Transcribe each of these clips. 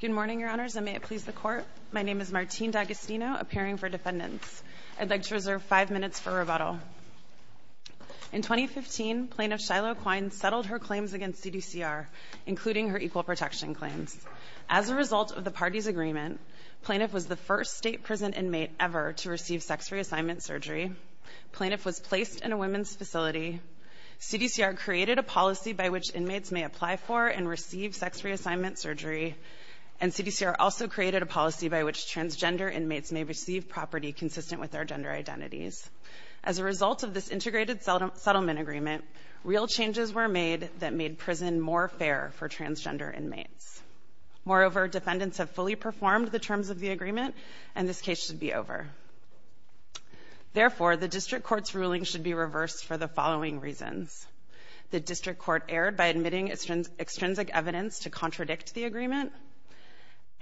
Good morning, Your Honors, and may it please the Court. My name is Martine D'Agostino, appearing for defendants. I'd like to reserve five minutes for rebuttal. In 2015, Plaintiff Shiloh Quine settled her claims against CDCR, including her equal protection claims. As a result of the party's agreement, Plaintiff was the first state prison inmate ever to receive sex reassignment surgery. Plaintiff was placed in a women's facility. CDCR created a policy by which inmates may apply for and receive sex reassignment surgery, and CDCR also created a policy by which transgender inmates may receive property consistent with their gender identities. As a result of this integrated settlement agreement, real changes were made that made prison more fair for transgender inmates. Moreover, defendants have fully performed the terms of the agreement, and this case should be over. Therefore, the district court's ruling should be reversed for the following reasons. The district court erred by admitting extrinsic evidence to contradict the agreement,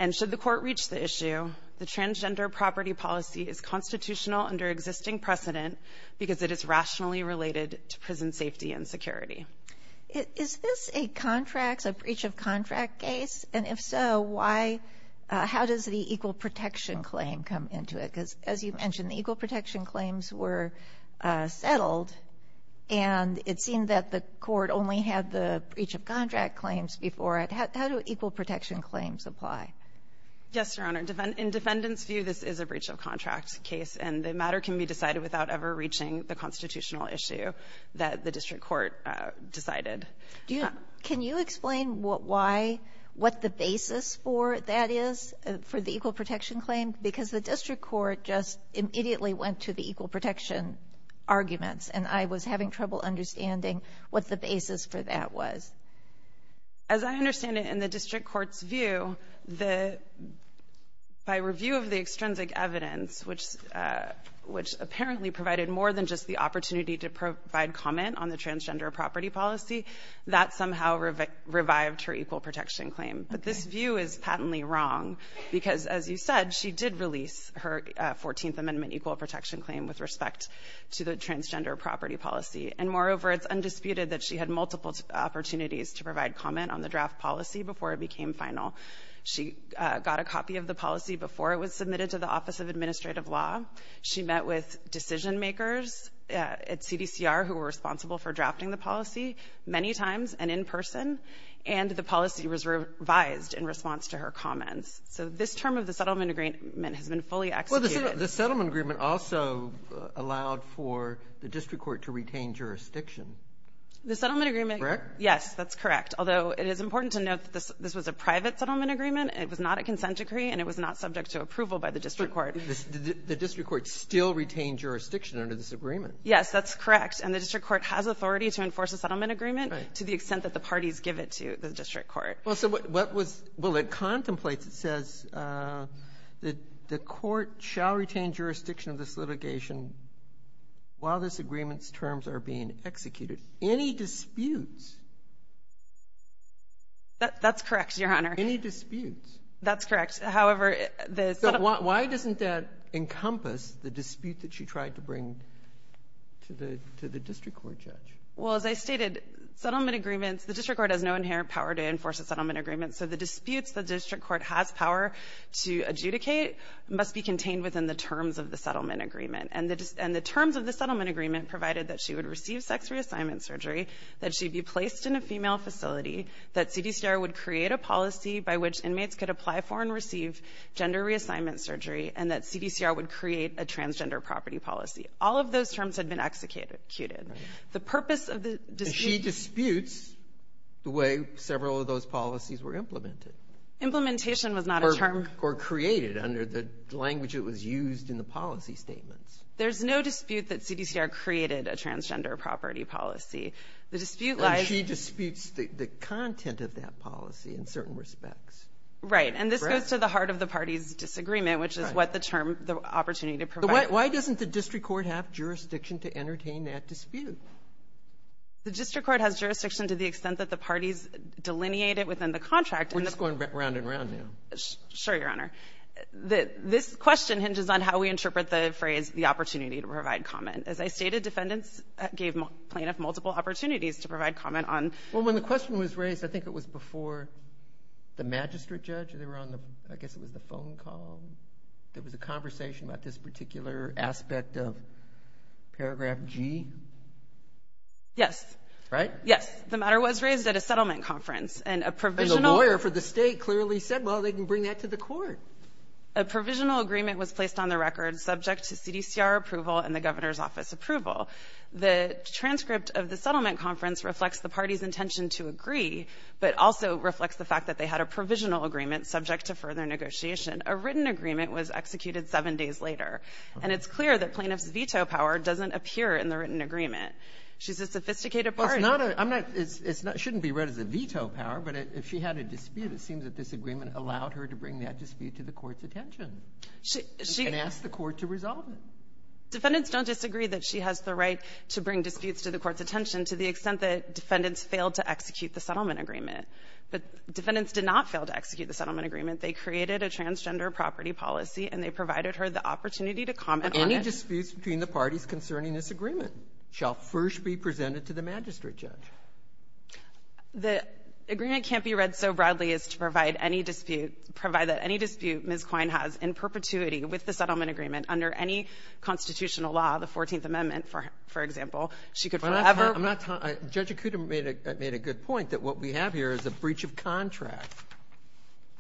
and should the court reach the issue, the transgender property policy is constitutional under existing precedent because it is rationally related to prison safety and security. Is this a breach of contract case? And if so, how does the equal protection claim come into it? Because as you mentioned, the equal protection claims were settled, and it seemed that the court only had the breach of contract claims before it. How do equal protection claims apply? Yes, Your Honor. In defendants' view, this is a breach of contract case, and the matter can be decided without ever reaching the constitutional issue that the district court decided. Can you explain why, what the basis for that is for the equal protection claim? Because the district court just immediately went to the equal protection arguments, and I was having trouble understanding what the basis for that was. As I understand it, in the district court's view, the by review of the extrinsic evidence, which apparently provided more than just the opportunity to provide comment on the transgender property policy, that somehow revived her equal protection claim. Okay. But this view is patently wrong, because as you said, she did release her 14th Amendment equal protection claim with respect to the transgender property policy. And moreover, it's undisputed that she had multiple opportunities to provide comment on the draft policy before it became final. She got a copy of the policy before it was submitted to the Office of Administrative Law. She met with decision-makers at CDCR who were responsible for drafting the policy many times and in person. And the policy was revised in response to her comments. So this term of the settlement agreement has been fully executed. Well, the settlement agreement also allowed for the district court to retain jurisdiction. The settlement agreement — Correct? Yes, that's correct. Although, it is important to note that this was a private settlement agreement. It was not a consent decree, and it was not subject to approval by the district court. The district court still retained jurisdiction under this agreement. Yes, that's correct. And the district court has authority to enforce a settlement agreement to the extent that the parties give it to the district court. Well, so what was — well, it contemplates, it says, that the court shall retain jurisdiction of this litigation while this agreement's terms are being executed. Any disputes? That's correct, Your Honor. Any disputes? That's correct. However, the — So why doesn't that encompass the dispute that she tried to bring to the — to the district court judge? Well, as I stated, settlement agreements — the district court has no inherent power to enforce a settlement agreement. So the disputes the district court has power to adjudicate must be contained within the terms of the settlement agreement. And the — and the terms of the settlement agreement provided that she would receive sex reassignment surgery, that she be placed in a female facility, that CDCR would create a policy by which inmates could apply for and receive gender reassignment surgery, and that CDCR would create a transgender property policy. All of those terms had been executed. The purpose of the dispute — And she disputes the way several of those policies were implemented. Implementation was not a term — Or created under the language that was used in the policy statements. There's no dispute that CDCR created a transgender property policy. The dispute lies — And she disputes the content of that policy in certain respects. Right. And this goes to the heart of the parties' disagreement, which is what the term — the opportunity to provide — Why doesn't the district court have jurisdiction to entertain that dispute? The district court has jurisdiction to the extent that the parties delineate it within the contract. We're just going round and round now. Sure, Your Honor. This question hinges on how we interpret the phrase, the opportunity to provide comment. As I stated, defendants gave plaintiffs multiple opportunities to provide comment on — Well, when the question was raised, I think it was before the magistrate judge or they were on the — I guess it was the phone call. There was a conversation about this particular aspect of paragraph G. Yes. Right? Yes. The matter was raised at a settlement conference, and a provisional — And the lawyer for the state clearly said, well, they can bring that to the court. A provisional agreement was placed on the record subject to CDCR approval and the governor's office approval. The transcript of the settlement conference reflects the party's intention to agree, but also reflects the fact that they had a provisional agreement subject to further negotiation. A written agreement was executed seven days later, and it's clear that plaintiff's veto power doesn't appear in the written agreement. She's a sophisticated party. Well, it's not a — I'm not — it's not — it shouldn't be read as a veto power, but if she had a dispute, it seems that this agreement allowed her to bring that dispute to the court's attention. She — she — And ask the court to resolve it. Defendants don't disagree that she has the right to bring disputes to the court's attention to the extent that defendants failed to execute the settlement agreement. But defendants did not fail to execute the settlement agreement. They created a transgender property policy, and they provided her the opportunity to comment on it. But any disputes between the parties concerning this agreement shall first be presented to the magistrate judge. The agreement can't be read so broadly as to provide any dispute — provide that any dispute Ms. Quine has in perpetuity with the settlement agreement under any constitutional law, the 14th Amendment, for example, she could forever — I'm not — Judge Acuda made a good point, that what we have here is a breach of contract.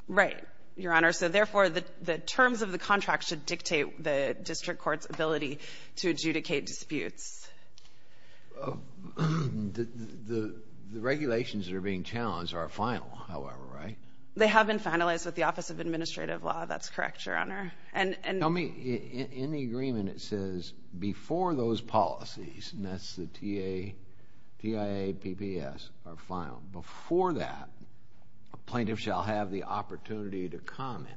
Right, Your Honor. So therefore, the terms of the contract should dictate the district court's ability to adjudicate disputes. The regulations that are being challenged are final, however, right? They have been finalized with the Office of Administrative Law. That's correct, Your Honor. Tell me, in the agreement it says before those policies, and that's the TIA, PPS, are final. Before that, a plaintiff shall have the opportunity to comment.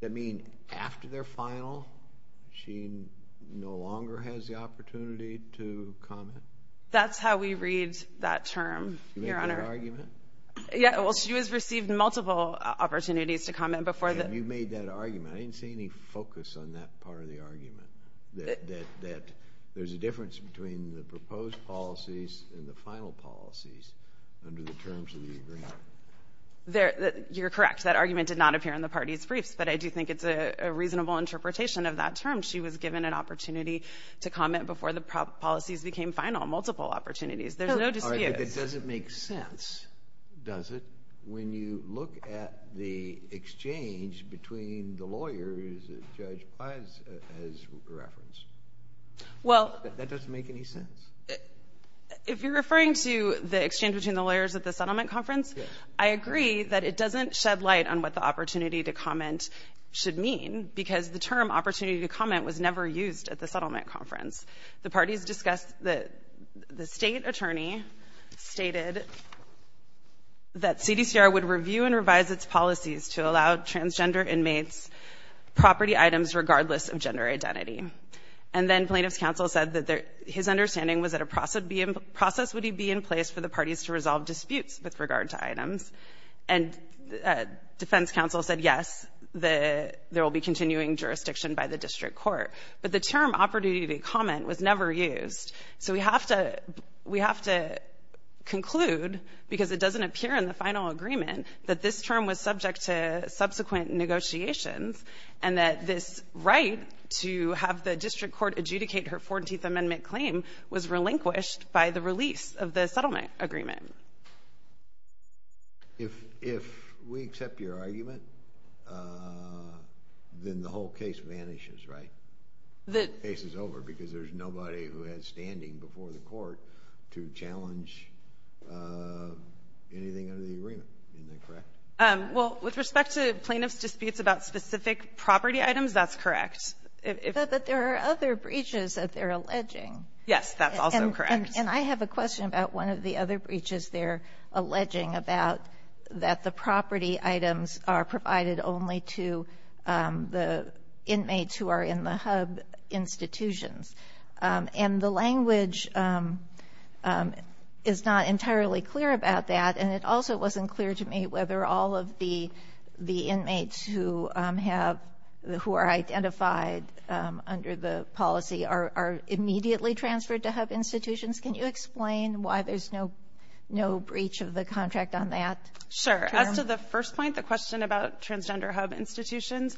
Does that mean after they're final, she no longer has the opportunity to comment? That's how we read that term, Your Honor. Yeah, well, she has received multiple opportunities to comment before the — You made that argument. I didn't see any focus on that part of the argument, that there's a difference between the proposed policies and the final policies under the terms of the agreement. You're correct. That argument did not appear in the party's briefs, but I do think it's a reasonable interpretation of that term. She was given an opportunity to comment before the policies became final, multiple opportunities. There's no dispute. All right, but that doesn't make sense, does it, when you look at the exchange between the lawyers that Judge Paz has referenced? Well — That doesn't make any sense. If you're referring to the exchange between the lawyers at the settlement conference, I agree that it doesn't shed light on what the opportunity to comment should mean, because the term opportunity to comment was never used at the settlement conference. The parties discussed that the State attorney stated that CDCR would review and revise its policies to allow transgender inmates property items regardless of gender identity. And then plaintiff's counsel said that their — his understanding was that a process would be in place for the parties to resolve disputes with regard to items. And defense counsel said, yes, there will be continuing jurisdiction by the district court. But the term opportunity to comment was never used. So we have to — we have to conclude, because it doesn't appear in the final agreement, that this term was subject to subsequent negotiations and that this right to have the district court adjudicate her 14th Amendment claim was relinquished by the release of the settlement agreement. If we accept your argument, then the whole case vanishes, right? The case is over, because there's nobody who has standing before the court to challenge anything under the agreement. Isn't that correct? Well, with respect to plaintiff's disputes about specific property items, that's correct. But there are other breaches that they're alleging. Yes, that's also correct. And I have a question about one of the other breaches they're alleging about, that the property items are provided only to the inmates who are in the hub institutions. And the language is not entirely clear about that. And it also wasn't clear to me whether all of the inmates who have — who are identified under the policy are immediately transferred to hub institutions. Can you explain why there's no breach of the contract on that? Sure. As to the first point, the question about transgender hub institutions,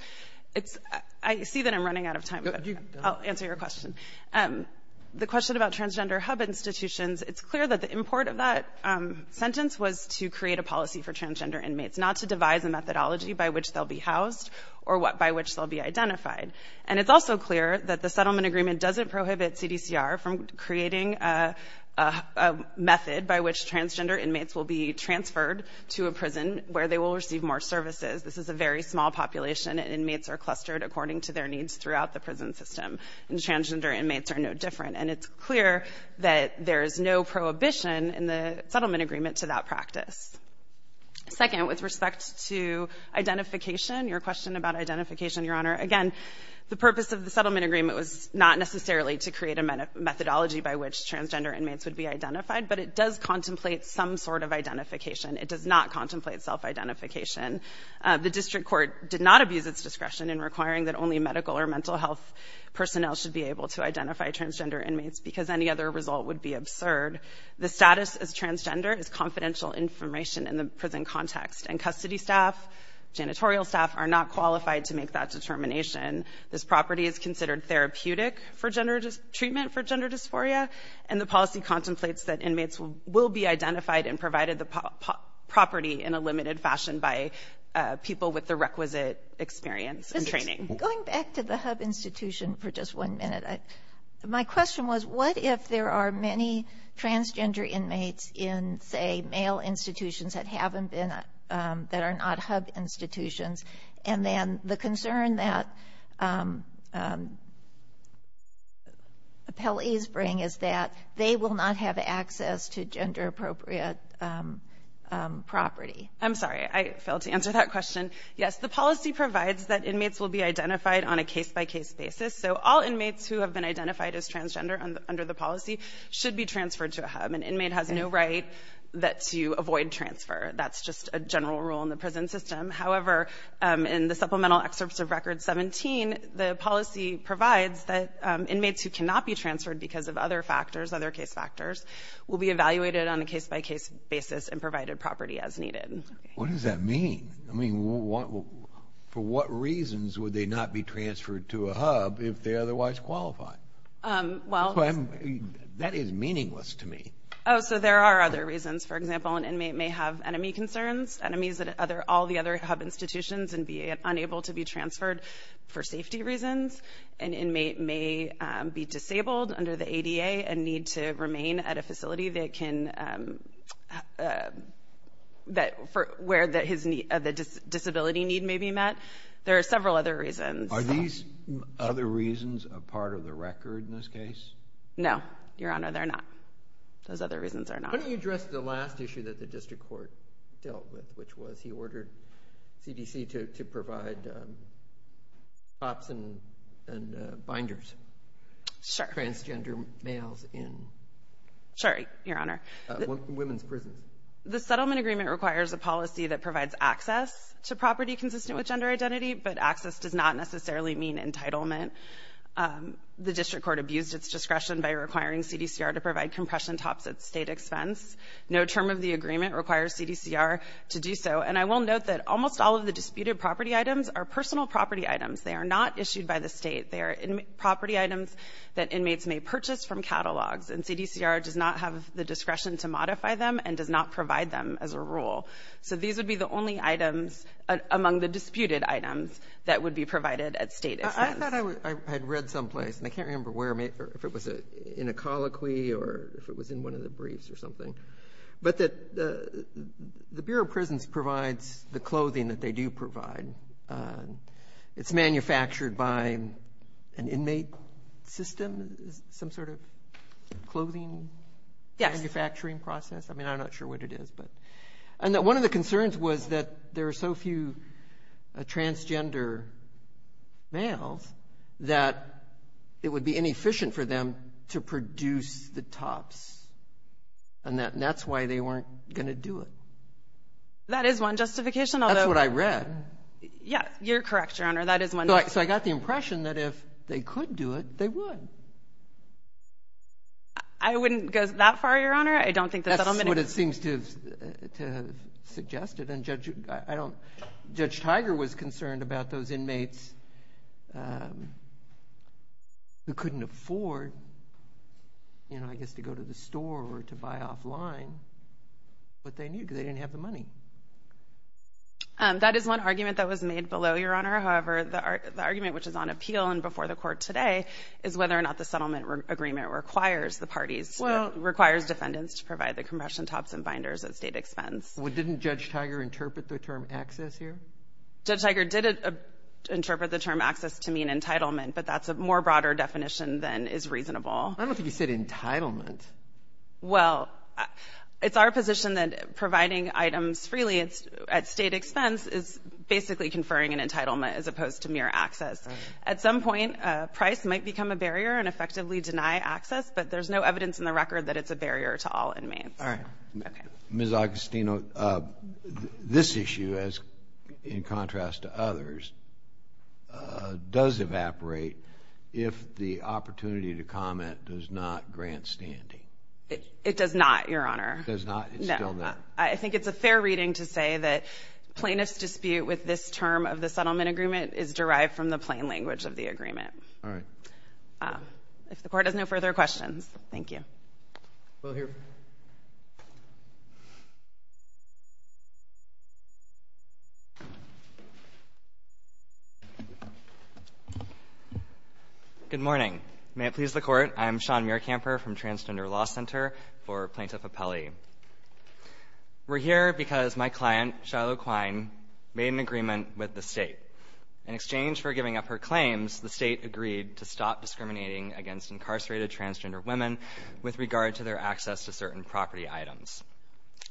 it's — I see that I'm running out of time. I'll answer your question. The question about transgender hub institutions, it's clear that the import of that sentence was to create a policy for transgender inmates, not to devise a methodology by which they'll be housed or by which they'll be identified. And it's also clear that the settlement agreement doesn't prohibit CDCR from creating a method by which transgender inmates will be transferred to a prison where they will receive more services. This is a very small population, and inmates are clustered according to their needs throughout the prison system. And transgender inmates are no different. And it's clear that there is no prohibition in the settlement agreement to that practice. Second, with respect to identification, your question about identification, Your Honor, again, the purpose of the settlement agreement was not necessarily to create a methodology by which transgender inmates would be identified, but it does contemplate some sort of identification. It does not contemplate self-identification. The district court did not abuse its discretion in requiring that only medical or mental health personnel should be able to identify transgender inmates because any other result would be absurd. The status as transgender is confidential information in the prison context, and custody staff, janitorial staff, are not qualified to make that determination. This property is considered therapeutic for gender treatment for gender dysphoria, and the policy contemplates that inmates will be identified and provided the property in a limited fashion by people with the requisite experience and training. Going back to the hub institution for just one minute, my question was, what if there are many transgender inmates in, say, male institutions that haven't been, that are not hub institutions, and then the concern that appellees bring is that they will not have access to gender-appropriate property? I'm sorry. I failed to answer that question. Yes, the policy provides that inmates will be identified on a case-by-case basis. So all inmates who have been identified as transgender under the policy should be transferred to a hub. An inmate has no right to avoid transfer. That's just a general rule in the prison system. However, in the supplemental excerpts of Record 17, the policy provides that inmates who cannot be transferred because of other factors, other case factors, will be evaluated on a case-by-case basis and provided property as needed. What does that mean? I mean, for what reasons would they not be transferred to a hub if they otherwise qualify? That is meaningless to me. Oh, so there are other reasons. For example, an inmate may have enemy concerns, enemies that all the other hub institutions and be unable to be transferred for safety reasons. An inmate may be disabled under the ADA and need to remain at a facility that can, where the disability need may be met. There are several other reasons. Are these other reasons a part of the record in this case? No, Your Honor, they're not. Those other reasons are not. Why don't you address the last issue that the district court dealt with, which was he ordered CDC to provide stops and binders. Sure. Transgender males in. Sorry, Your Honor. Women's prisons. The settlement agreement requires a policy that provides access to property consistent with gender identity, but access does not necessarily mean entitlement. The district court abused its discretion by requiring CDCR to provide compression tops at State expense. No term of the agreement requires CDCR to do so. And I will note that almost all of the disputed property items are personal property items. They are not issued by the State. They are property items that inmates may purchase from catalogs, and CDCR does not have the discretion to modify them and does not provide them as a rule. So these would be the only items among the disputed items that would be provided at State expense. I thought I had read someplace, and I can't remember where, if it was in a colloquy or if it was in one of the briefs or something. But the Bureau of Prisons provides the clothing that they do provide. It's manufactured by an inmate system? Some sort of clothing manufacturing process? Yes. I mean, I'm not sure what it is. And one of the concerns was that there are so few transgender males that it would be inefficient for them to produce the tops, and that's why they weren't going to do it. That is one justification. That's what I read. Yes. You're correct, Your Honor. That is one. So I got the impression that if they could do it, they would. I wouldn't go that far, Your Honor. I don't think that's what I'm going to do. That's what it seems to have suggested, and Judge Tiger was concerned about those inmates who couldn't afford, I guess, to go to the store or to buy clothes offline, but they knew because they didn't have the money. That is one argument that was made below, Your Honor. However, the argument which is on appeal and before the Court today is whether or not the settlement agreement requires the parties, requires defendants to provide the compression tops and binders at state expense. Didn't Judge Tiger interpret the term access here? Judge Tiger did interpret the term access to mean entitlement, but that's a more broader definition than is reasonable. I don't think he said entitlement. Well, it's our position that providing items freely at state expense is basically conferring an entitlement as opposed to mere access. At some point, price might become a barrier and effectively deny access, but there's no evidence in the record that it's a barrier to all inmates. All right. Ms. Agostino, this issue, in contrast to others, does evaporate if the opportunity to comment does not grant standing. It does not, Your Honor. It does not. It's still not. I think it's a fair reading to say that plaintiff's dispute with this term of the settlement agreement is derived from the plain language of the agreement. All right. If the Court has no further questions, thank you. We'll hear from you. Good morning. May it please the Court. I am Sean Muircamper from Transgender Law Center for Plaintiff Appellee. We're here because my client, Shiloh Quine, made an agreement with the State. In exchange for giving up her claims, the State agreed to stop discriminating against incarcerated transgender women with regard to their access to certain property items.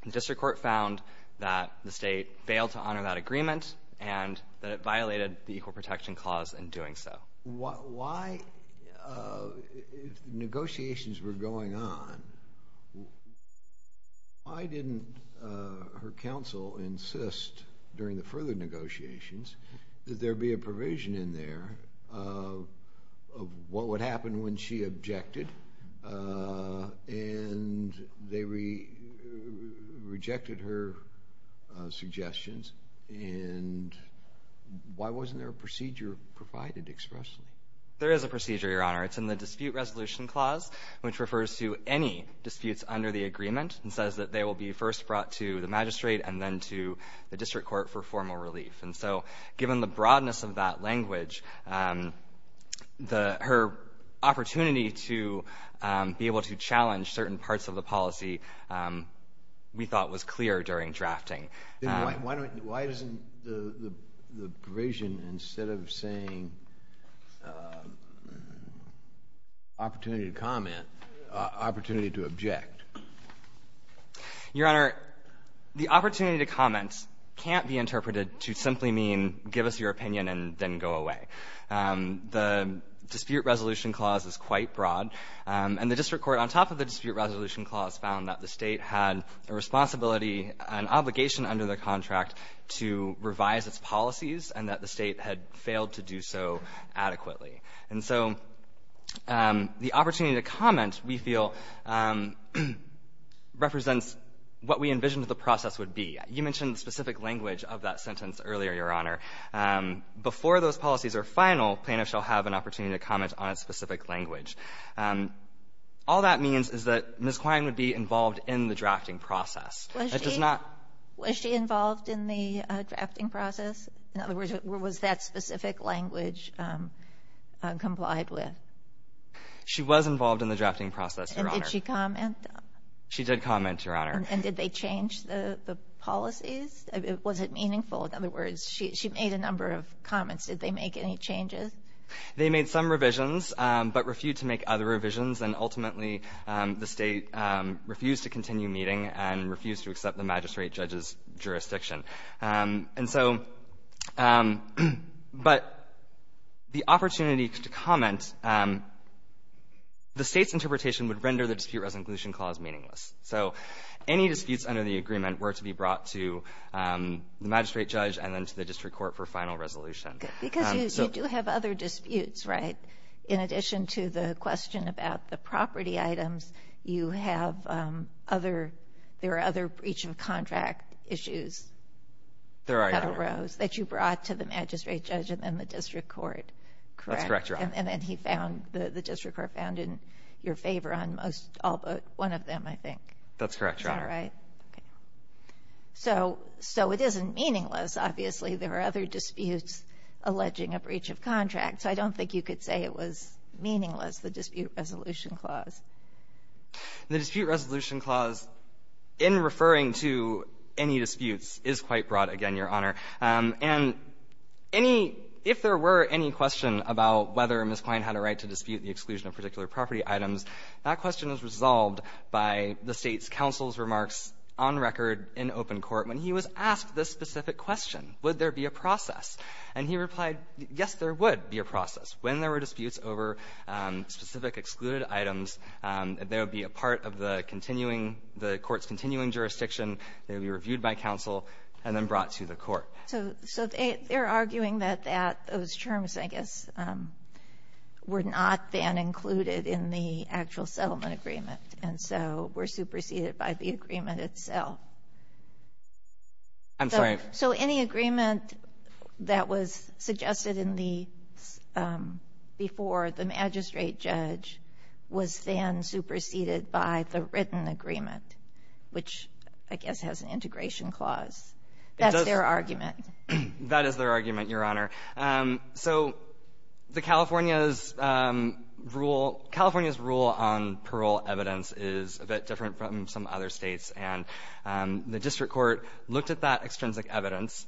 The District Court found that the State failed to honor that agreement and that it violated the Equal Protection Clause in doing so. Why, if negotiations were going on, why didn't her counsel insist during the further negotiations that there be a provision in there of what would happen when she objected and they rejected her suggestions? And why wasn't there a procedure provided expressly? There is a procedure, Your Honor. It's in the Dispute Resolution Clause, which refers to any disputes under the agreement and says that they will be first brought to the magistrate and then to the District Court for formal relief. And so given the broadness of that language, her opportunity to be able to challenge certain parts of the policy we thought was clear during drafting. Then why doesn't the provision, instead of saying opportunity to comment, opportunity to object? Your Honor, the opportunity to comment can't be interpreted to simply mean give us your opinion and then go away. The Dispute Resolution Clause is quite broad. And the District Court, on top of the Dispute Resolution Clause, found that the State had a responsibility, an obligation under the contract to revise its policies and that the State had failed to do so adequately. And so the opportunity to comment, we feel, represents what we envisioned the process would be. You mentioned specific language of that sentence earlier, Your Honor. Before those policies are final, plaintiffs shall have an opportunity to comment on its specific language. All that means is that Ms. Quine would be involved in the drafting process. It does not ---- Was she involved in the drafting process? In other words, was that specific language complied with? She was involved in the drafting process, Your Honor. And did she comment? She did comment, Your Honor. And did they change the policies? Was it meaningful? In other words, she made a number of comments. Did they make any changes? They made some revisions, but refused to make other revisions, and ultimately the State refused to continue meeting and refused to accept the magistrate judge's jurisdiction. And so, but the opportunity to comment, the State's interpretation would render the dispute resolution clause meaningless. So any disputes under the agreement were to be brought to the magistrate judge and then to the district court for final resolution. Because you do have other disputes, right? In addition to the question about the property items, you have other ---- there are, Your Honor. That arose, that you brought to the magistrate judge and then the district court, correct? That's correct, Your Honor. And then he found, the district court found in your favor on most all but one of them, I think. That's correct, Your Honor. Is that right? Okay. So it isn't meaningless. Obviously, there are other disputes alleging a breach of contract. So I don't think you could say it was meaningless, the dispute resolution clause. The dispute resolution clause, in referring to any disputes, is quite broad again, Your Honor. And any ---- if there were any question about whether Ms. Quine had a right to dispute the exclusion of particular property items, that question is resolved by the State's counsel's remarks on record in open court when he was asked this specific question, would there be a process? And he replied, yes, there would be a process. When there were disputes over specific excluded items, there would be a part of the continuing, the court's continuing jurisdiction. They would be reviewed by counsel and then brought to the court. So they're arguing that that, those terms, I guess, were not then included in the actual settlement agreement, and so were superseded by the agreement itself. I'm sorry. So any agreement that was suggested in the ---- before the magistrate judge was then superseded by the written agreement, which I guess has an integration clause. That's their argument. That is their argument, Your Honor. So the California's rule ---- California's rule on parole evidence is a bit different from some other States, and the district court looked at that extrinsic evidence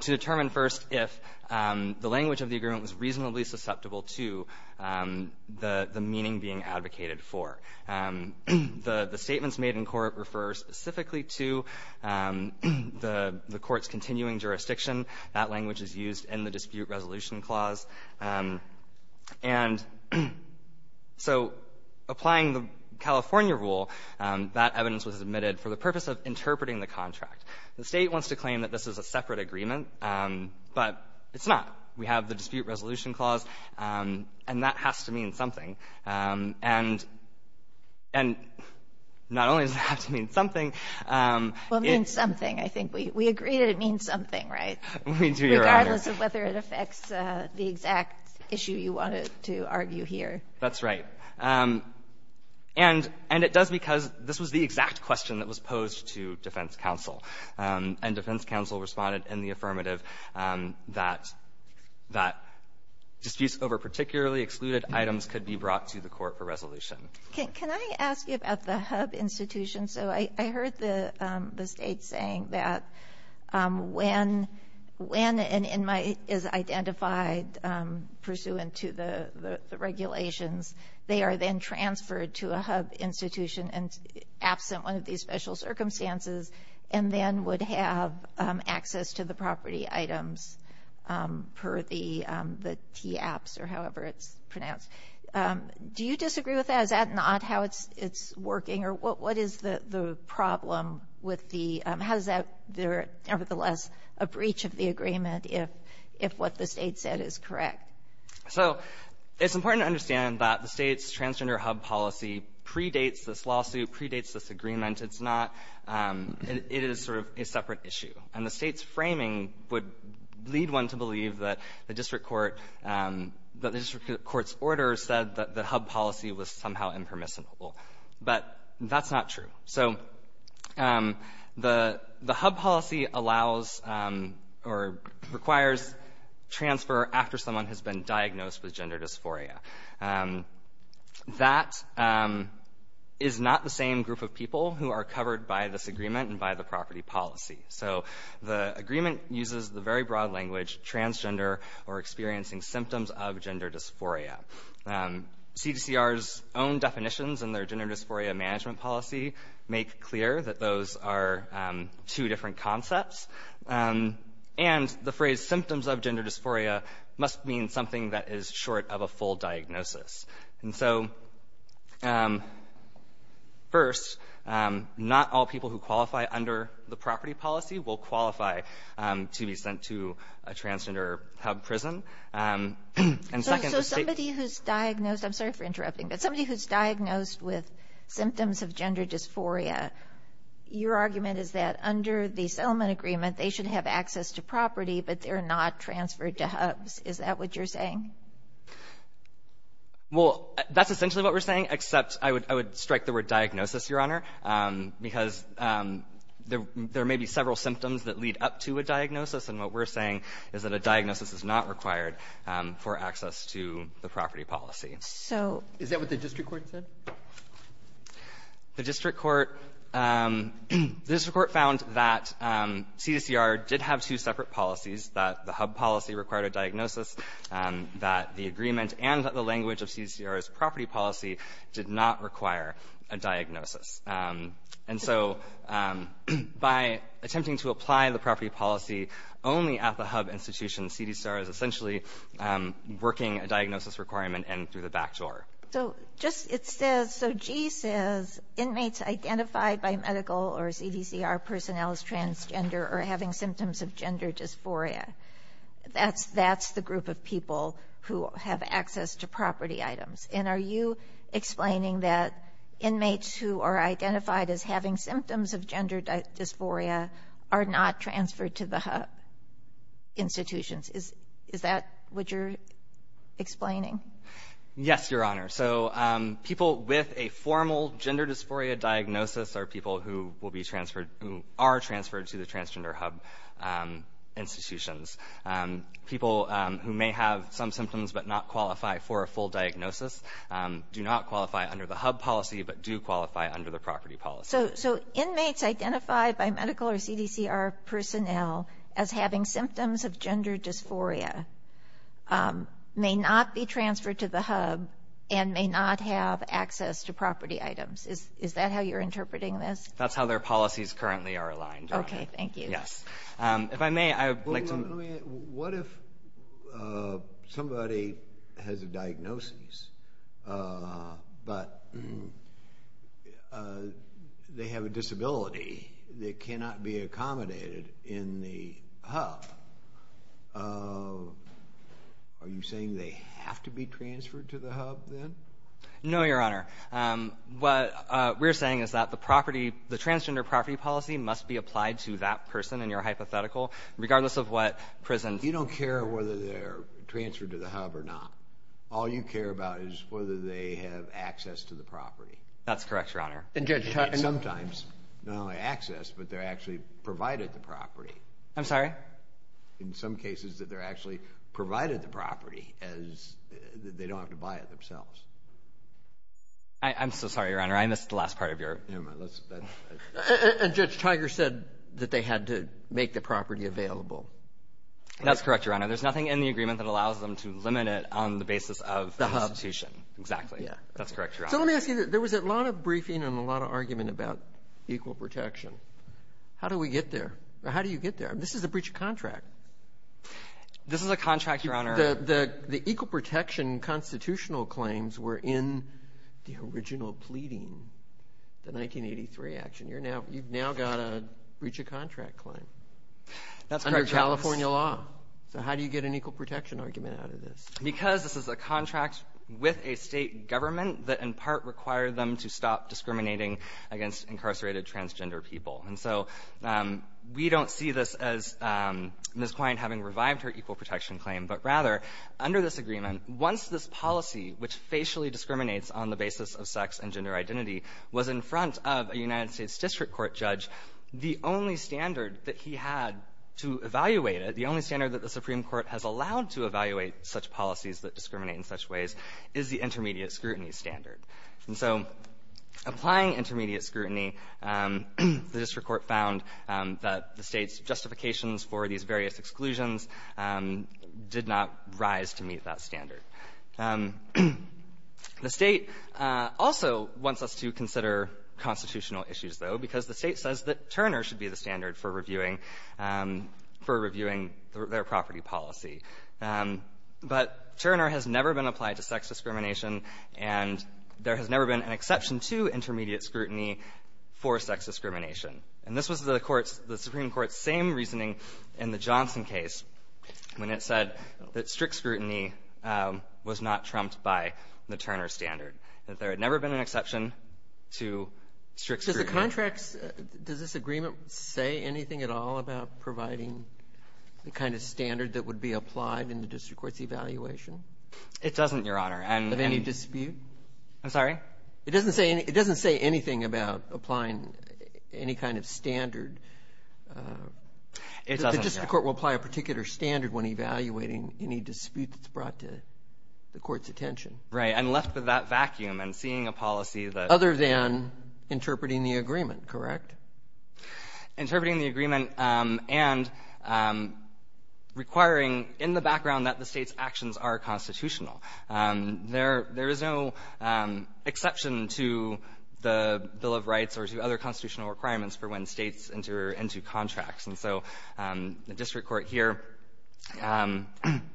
to determine first if the language of the agreement was reasonably susceptible to the meaning being advocated for. The statements made in court refer specifically to the court's continuing jurisdiction. That language is used in the dispute resolution clause. And so applying the California rule, that evidence was admitted for the purpose of interpreting the contract. The State wants to claim that this is a separate agreement, but it's not. We have the dispute resolution clause, and that has to mean something. And not only does it have to mean something, it's ---- Well, it means something. I think we agree that it means something, right? We do, Your Honor. Regardless of whether it affects the exact issue you wanted to argue here. That's right. And it does because this was the exact question that was posed to defense counsel. And defense counsel responded in the affirmative that disputes over particularly excluded items could be brought to the court for resolution. Can I ask you about the HUB institution? So I heard the State saying that when an inmate is identified pursuant to the regulations, they are then transferred to a HUB institution and absent one of these special circumstances, and then would have access to the property items per the TAPs, or however it's pronounced. Do you disagree with that? Is that not how it's working? Or what is the problem with the ---- how is that nevertheless a breach of the agreement if what the State said is correct? So it's important to understand that the State's transgender HUB policy predates this lawsuit, predates this agreement. It's not ---- it is sort of a separate issue. And the State's framing would lead one to believe that the district court ---- that the district court's order said that the HUB policy was somehow impermissible. But that's not true. So the HUB policy allows or requires transfer after someone has been diagnosed with gender dysphoria. That is not the same group of people who are covered by this agreement and by the property policy. So the agreement uses the very broad language, transgender or experiencing symptoms of gender dysphoria. CDCR's own definitions in their gender dysphoria management policy make clear that those are two different concepts. And the phrase symptoms of gender dysphoria must mean something that is short of a full diagnosis. And so, first, not all people who qualify under the property policy will qualify to be sent to a transgender HUB prison. And second, the State ---- Kagan. So somebody who's diagnosed ---- I'm sorry for interrupting. But somebody who's diagnosed with symptoms of gender dysphoria, your argument is that under the settlement agreement, they should have access to property, but they're not transferred to HUBs. Is that what you're saying? Well, that's essentially what we're saying, except I would strike the word diagnosis, Your Honor, because there may be several symptoms that lead up to a diagnosis. And what we're saying is that a diagnosis is not required for access to the property policy. So ---- Is that what the district court said? The district court ---- the district court found that CDCR did have two separate policies, that the HUB policy required a diagnosis, that the agreement and that the language of CDCR's property policy did not require a diagnosis. And so by attempting to apply the property policy only at the HUB institution, CDCR is essentially working a diagnosis requirement in through the back door. So just ---- it says ---- so G says inmates identified by medical or CDCR personnel as transgender or having symptoms of gender dysphoria, that's the group of people who have access to property items. And are you explaining that inmates who are identified as having symptoms of gender dysphoria are not transferred to the HUB institutions? Is that what you're explaining? Yes, Your Honor. So people with a formal gender dysphoria diagnosis are people who will be transferred ---- who are transferred to the transgender HUB institutions. People who may have some symptoms but not qualify for a full diagnosis do not qualify under the HUB policy but do qualify under the property policy. So inmates identified by medical or CDCR personnel as having symptoms of gender dysphoria may not be transferred to the HUB and may not have access to property items. Is that how you're interpreting this? That's how their policies currently are aligned, Your Honor. Okay. Thank you. Yes. If I may, I would like to ---- What if somebody has a diagnosis, but they have a disability that cannot be accommodated in the HUB, are you saying they have to be transferred to the HUB then? No, Your Honor. What we're saying is that the property, the transgender property policy must be present. You don't care whether they're transferred to the HUB or not. All you care about is whether they have access to the property. That's correct, Your Honor. And Judge Tiger ---- And sometimes, not only access, but they're actually provided the property. I'm sorry? In some cases, that they're actually provided the property as they don't have to buy it themselves. I'm so sorry, Your Honor. I missed the last part of your ---- Never mind. Let's ---- And Judge Tiger said that they had to make the property available. That's correct, Your Honor. There's nothing in the agreement that allows them to limit it on the basis of the institution. Exactly. Yeah. That's correct, Your Honor. So let me ask you, there was a lot of briefing and a lot of argument about equal protection. How do we get there? How do you get there? This is a breach of contract. This is a contract, Your Honor. The equal protection constitutional claims were in the original pleading, the 1983 action. You've now got a breach of contract claim under California law. So how do you get an equal protection argument out of this? Because this is a contract with a state government that, in part, required them to stop discriminating against incarcerated transgender people. And so we don't see this as Ms. Quine having revived her equal protection claim, but rather, under this agreement, once this policy, which facially discriminates on the basis of sex and gender identity, was in front of a United States district court judge, the only standard that he had to evaluate it, the only standard that the Supreme Court has allowed to evaluate such policies that discriminate in such ways, is the intermediate scrutiny standard. And so applying intermediate scrutiny, the district court found that the state's justifications for these various exclusions did not rise to meet that standard. The state also wants us to consider constitutional issues, though, because the state says that Turner should be the standard for reviewing their property policy. But Turner has never been applied to sex discrimination, and there has never been an exception to intermediate scrutiny for sex discrimination. And this was the Supreme Court's same reasoning in the Johnson case when it said that strict scrutiny was not trumped by the Turner standard, that there had never been an exception to strict scrutiny. Does the contract's – does this agreement say anything at all about providing the kind of standard that would be applied in the district court's evaluation? It doesn't, Your Honor. Of any dispute? I'm sorry? It doesn't say anything about applying any kind of standard. It doesn't, Your Honor. The district court will apply a particular standard when evaluating any dispute that's brought to the court's attention. Right. And left with that vacuum and seeing a policy that — Other than interpreting the agreement, correct? Interpreting the agreement and requiring in the background that the state's actions are constitutional. There is no exception to the Bill of Rights or to other constitutional requirements for when states enter into contracts. And so the district court here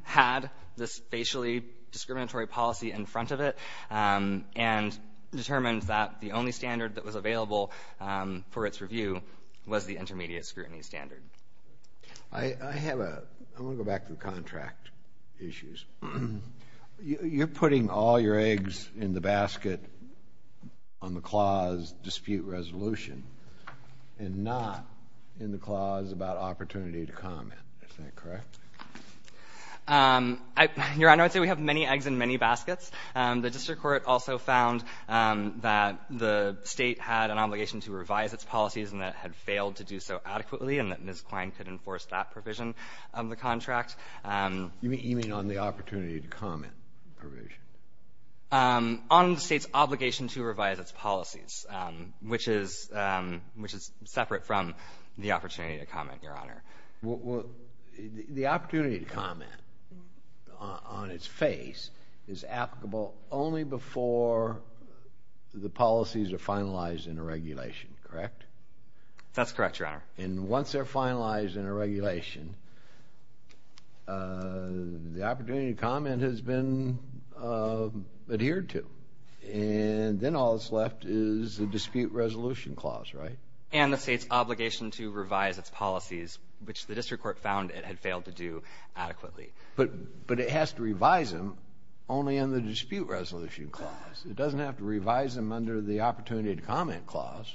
had this facially discriminatory policy in front of it, and determined that the only standard that was available for its review was the intermediate scrutiny standard. I have a — I want to go back to the contract issues. You're putting all your eggs in the basket on the clause dispute resolution. And not in the clause about opportunity to comment. Is that correct? Your Honor, I would say we have many eggs in many baskets. The district court also found that the state had an obligation to revise its policies and that it had failed to do so adequately, and that Ms. Klein could enforce that provision of the contract. You mean on the opportunity to comment provision? On the state's obligation to revise its policies, which is separate from the opportunity to comment, Your Honor. The opportunity to comment on its face is applicable only before the policies are finalized in a regulation, correct? That's correct, Your Honor. And once they're finalized in a regulation, the opportunity to comment has been a requirement adhered to. And then all that's left is the dispute resolution clause, right? And the state's obligation to revise its policies, which the district court found it had failed to do adequately. But it has to revise them only in the dispute resolution clause. It doesn't have to revise them under the opportunity to comment clause.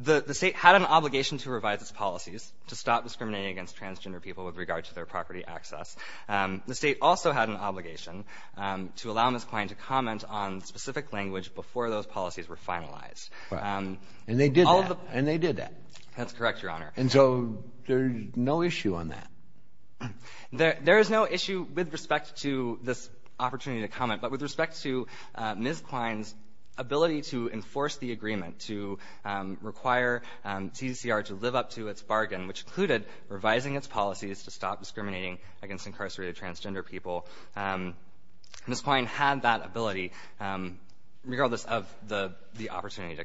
The state had an obligation to revise its policies to stop discriminating against transgender people with regard to their property access. The state also had an obligation to allow Ms. Klein to comment on specific language before those policies were finalized. And they did that. And they did that. That's correct, Your Honor. And so there's no issue on that? There is no issue with respect to this opportunity to comment. But with respect to Ms. Klein's ability to enforce the agreement to require TCCR to live up to its bargain, which included revising its policies to stop discriminating against incarcerated transgender people, Ms. Klein had that ability, regardless of the opportunity to comment.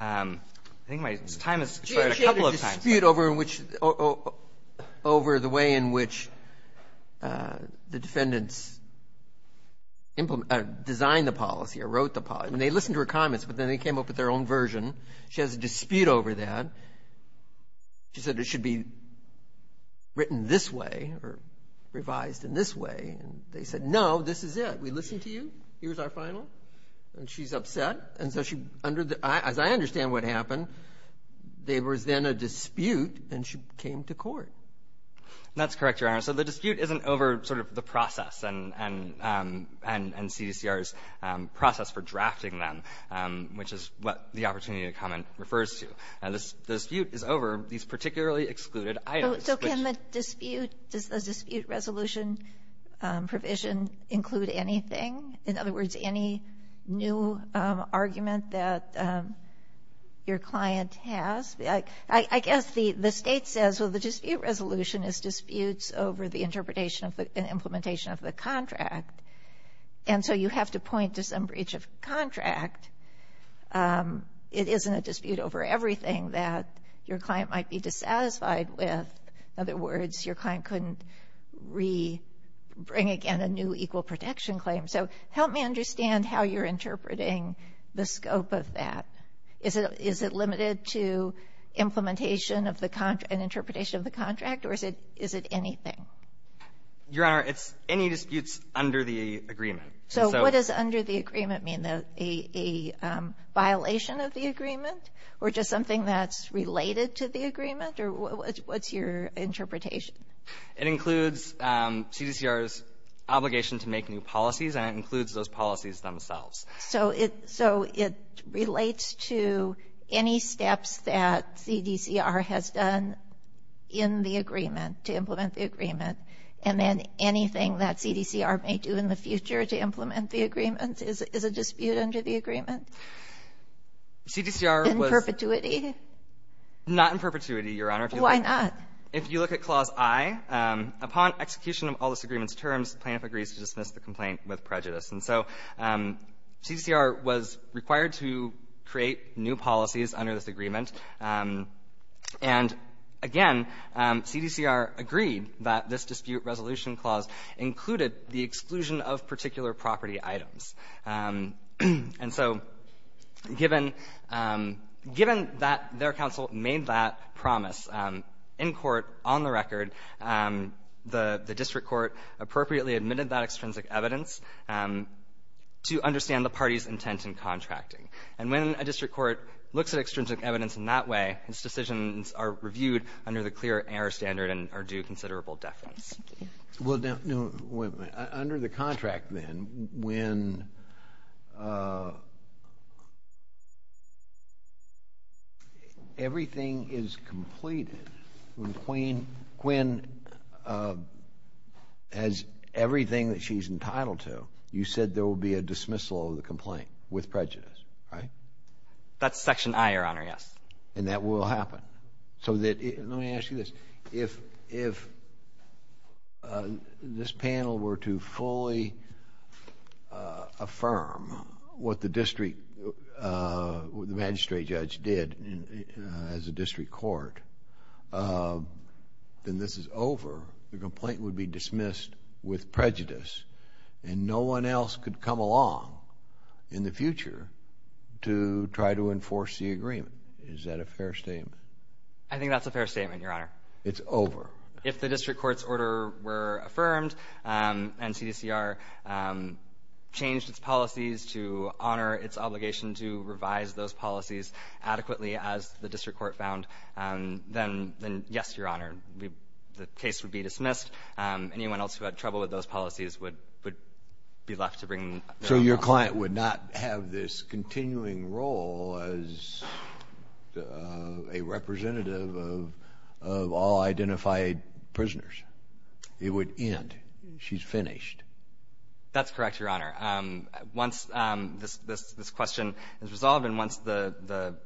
I think my time has expired a couple of times. I think my time has expired a couple of times. But you have a dispute over which the way in which the defendants designed the policy or wrote the policy. And they listened to her comments, but then they came up with their own version. She has a dispute over that. She said it should be written this way or revised in this way. And they said, no, this is it. We listened to you. Here's our final. And she's upset. And so as I understand what happened, there was then a dispute, and she came to court. That's correct, Your Honor. So the dispute isn't over sort of the process and CDCR's process for drafting them, which is what the opportunity to comment refers to. The dispute is over these particularly excluded items. So can the dispute, does the dispute resolution provision include anything? In other words, any new argument that your client has? I guess the State says, well, the dispute resolution is disputes over the interpretation and implementation of the contract. And so you have to point to some breach of contract. It isn't a dispute over everything that your client might be dissatisfied with. In other words, your client couldn't re-bring again a new equal protection claim. So help me understand how you're interpreting the scope of that. Is it limited to implementation of the contract and interpretation of the contract, or is it anything? Your Honor, it's any disputes under the agreement. So what does under the agreement mean? A violation of the agreement or just something that's related to the agreement? Or what's your interpretation? It includes CDCR's obligation to make new policies, and it includes those policies themselves. So it relates to any steps that CDCR has done in the agreement to implement the agreement, and then anything that CDCR may do in the future to implement the agreement is a dispute under the agreement? In perpetuity? Not in perpetuity, Your Honor. Why not? If you look at Clause I, upon execution of all this agreement's terms, plaintiff agrees to dismiss the complaint with prejudice. And so CDCR was required to create new policies under this agreement. And again, CDCR agreed that this dispute resolution clause included the exclusion of particular property items. And so given that their counsel made that promise in court, on the record, the district court appropriately admitted that extrinsic evidence to understand the party's intent in contracting. And when a district court looks at extrinsic evidence in that way, its decisions are reviewed under the clear error standard and are due considerable defense. Well, under the contract then, when everything is completed, when Quinn has everything that she's entitled to, you said there will be a dismissal of the complaint with prejudice, right? That's Section I, Your Honor, yes. And that will happen. Let me ask you this. If this panel were to fully affirm what the magistrate judge did as a district court, then this is over. The complaint would be dismissed with prejudice and no one else could come along in the future to try to enforce the agreement. Is that a fair statement? I think that's a fair statement, Your Honor. It's over. If the district court's order were affirmed and CDCR changed its policies to honor its obligation to revise those policies adequately as the district court found, then yes, Your Honor, the case would be dismissed. Anyone else who had trouble with those policies would be left to bring their own. So your client would not have this continuing role as a representative of all identified prisoners. It would end. She's finished. That's correct, Your Honor. Once this question is resolved and once the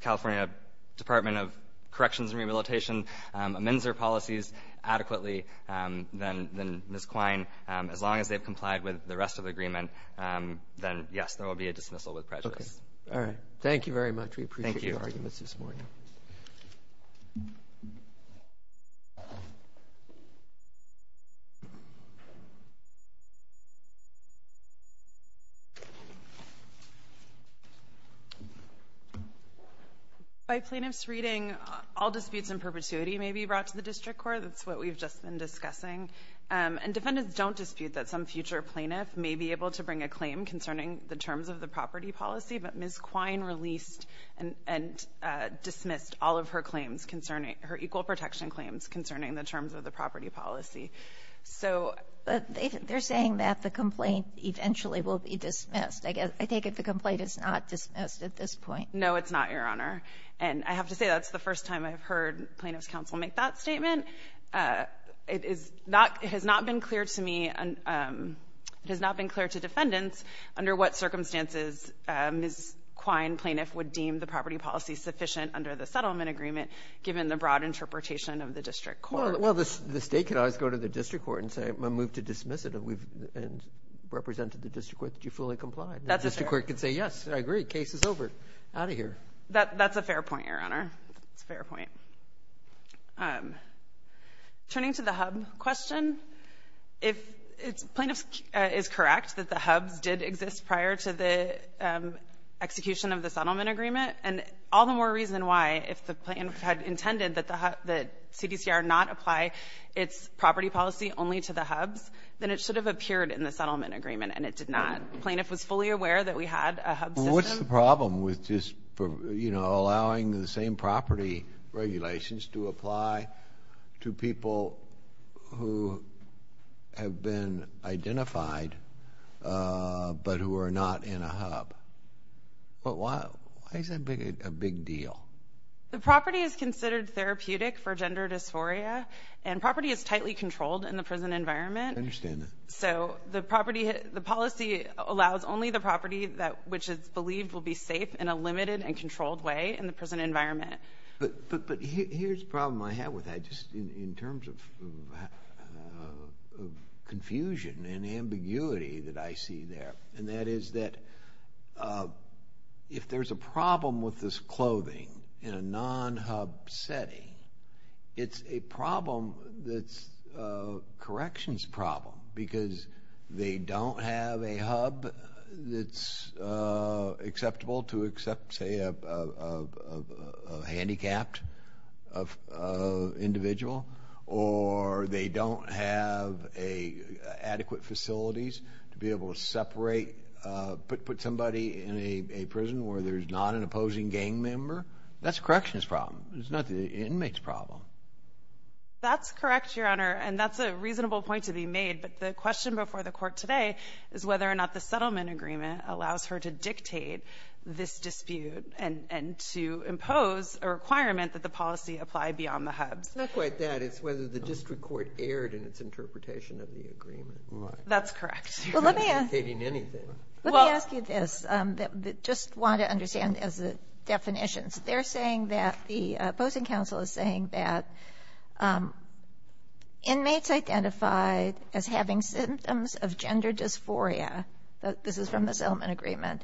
California Department of Corrections and Rehabilitation amends their policies adequately, then Ms. Quine, as long as they've complied with the rest of the agreement, then, yes, there will be a dismissal with prejudice. Okay. All right. Thank you very much. Thank you. We appreciate your arguments this morning. By plaintiff's reading, all disputes in perpetuity may be brought to the district court. That's what we've just been discussing. And defendants don't dispute that some future plaintiff may be able to bring a claim concerning the terms of the property policy, but Ms. Quine released and dismissed all of her claims concerning her equal protection claims concerning the terms of the property policy. So they're saying that the complaint eventually will be dismissed. I guess I take it the complaint is not dismissed at this point. No, it's not, Your Honor. And I have to say that's the first time I've heard plaintiff's counsel make that statement. It has not been clear to me, it has not been clear to defendants under what circumstances Ms. Quine, plaintiff, would deem the property policy sufficient under the settlement agreement given the broad interpretation of the district court. Well, the state could always go to the district court and say, I move to dismiss it, and represent to the district court that you fully complied. That's a fair point. The district court could say, yes, I agree. Case is over. Out of here. That's a fair point, Your Honor. That's a fair point. Turning to the hub question, if plaintiff is correct that the hubs did exist prior to the execution of the settlement agreement, and all the more reason why, if the plaintiff had intended that the CDCR not apply its property policy only to the hubs, then it should have appeared in the settlement agreement, and it did not. Plaintiff was fully aware that we had a hub system. What's the problem with just, you know, allowing the same property regulations to apply to people who have been identified, but who are not in a hub? Why is that a big deal? The property is considered therapeutic for gender dysphoria, and property is tightly controlled in the prison environment. I understand that. So the policy allows only the property which is believed will be safe in a limited and controlled way in the prison environment. But here's the problem I have with that, just in terms of confusion and ambiguity that I see there, and that is that if there's a problem with this clothing in a prison because they don't have a hub that's acceptable to accept, say, a handicapped individual, or they don't have adequate facilities to be able to separate, put somebody in a prison where there's not an opposing gang member, that's a corrections problem. It's not the inmate's problem. That's correct, Your Honor, and that's a reasonable point to be made. But the question before the Court today is whether or not the settlement agreement allows her to dictate this dispute and to impose a requirement that the policy apply beyond the hubs. It's not quite that. It's whether the district court erred in its interpretation of the agreement. That's correct. It's not dictating anything. Well, let me ask you this. I just want to understand as a definition. They're saying that the opposing counsel is saying that inmates identified as having symptoms of gender dysphoria, this is from the settlement agreement,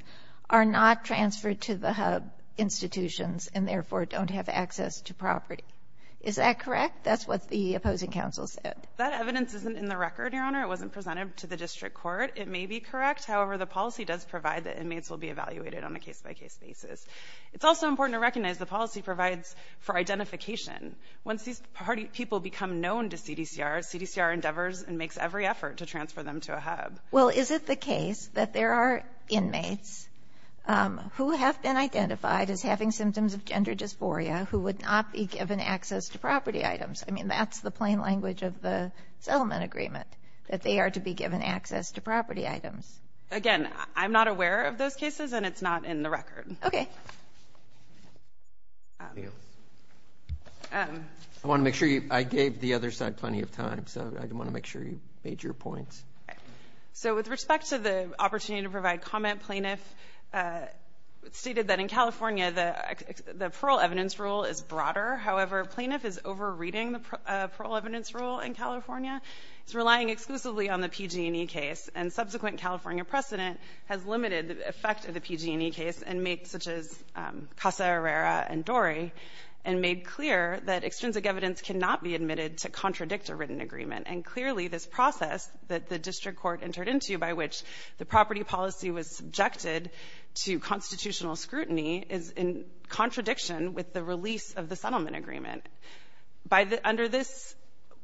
are not transferred to the hub institutions and therefore don't have access to property. Is that correct? That's what the opposing counsel said. That evidence isn't in the record, Your Honor. It wasn't presented to the district court. It may be correct. However, the policy does provide that inmates will be evaluated on a case-by-case basis. It's also important to recognize the policy provides for identification. Once these people become known to CDCR, CDCR endeavors and makes every effort to transfer them to a hub. Well, is it the case that there are inmates who have been identified as having symptoms of gender dysphoria who would not be given access to property items? I mean, that's the plain language of the settlement agreement, that they are to be given access to property items. Again, I'm not aware of those cases, and it's not in the record. Okay. Thank you. I want to make sure you – I gave the other side plenty of time, so I want to make sure you made your points. Okay. So with respect to the opportunity to provide comment, plaintiff stated that in California the parole evidence rule is broader. However, plaintiff is over-reading the parole evidence rule in California. It's relying exclusively on the PG&E case. And subsequent California precedent has limited the effect of the PG&E case and has made – such as Casa Herrera and Dory – and made clear that extrinsic evidence cannot be admitted to contradict a written agreement. And clearly, this process that the district court entered into by which the property policy was subjected to constitutional scrutiny is in contradiction with the release of the settlement agreement. Under this,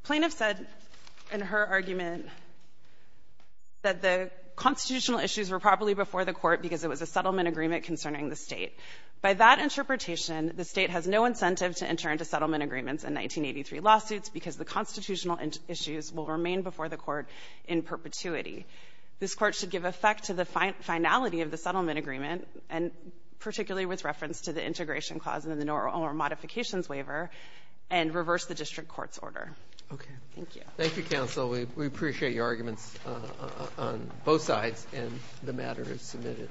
plaintiff said in her argument that the constitutional issues were properly before the court because it was a settlement agreement concerning the State. By that interpretation, the State has no incentive to enter into settlement agreements in 1983 lawsuits because the constitutional issues will remain before the court in perpetuity. This Court should give effect to the finality of the settlement agreement, and particularly with reference to the integration clause and the modifications waiver, and reverse the district court's order. Okay. Thank you. Thank you, counsel. We appreciate your arguments on both sides, and the matter is submitted.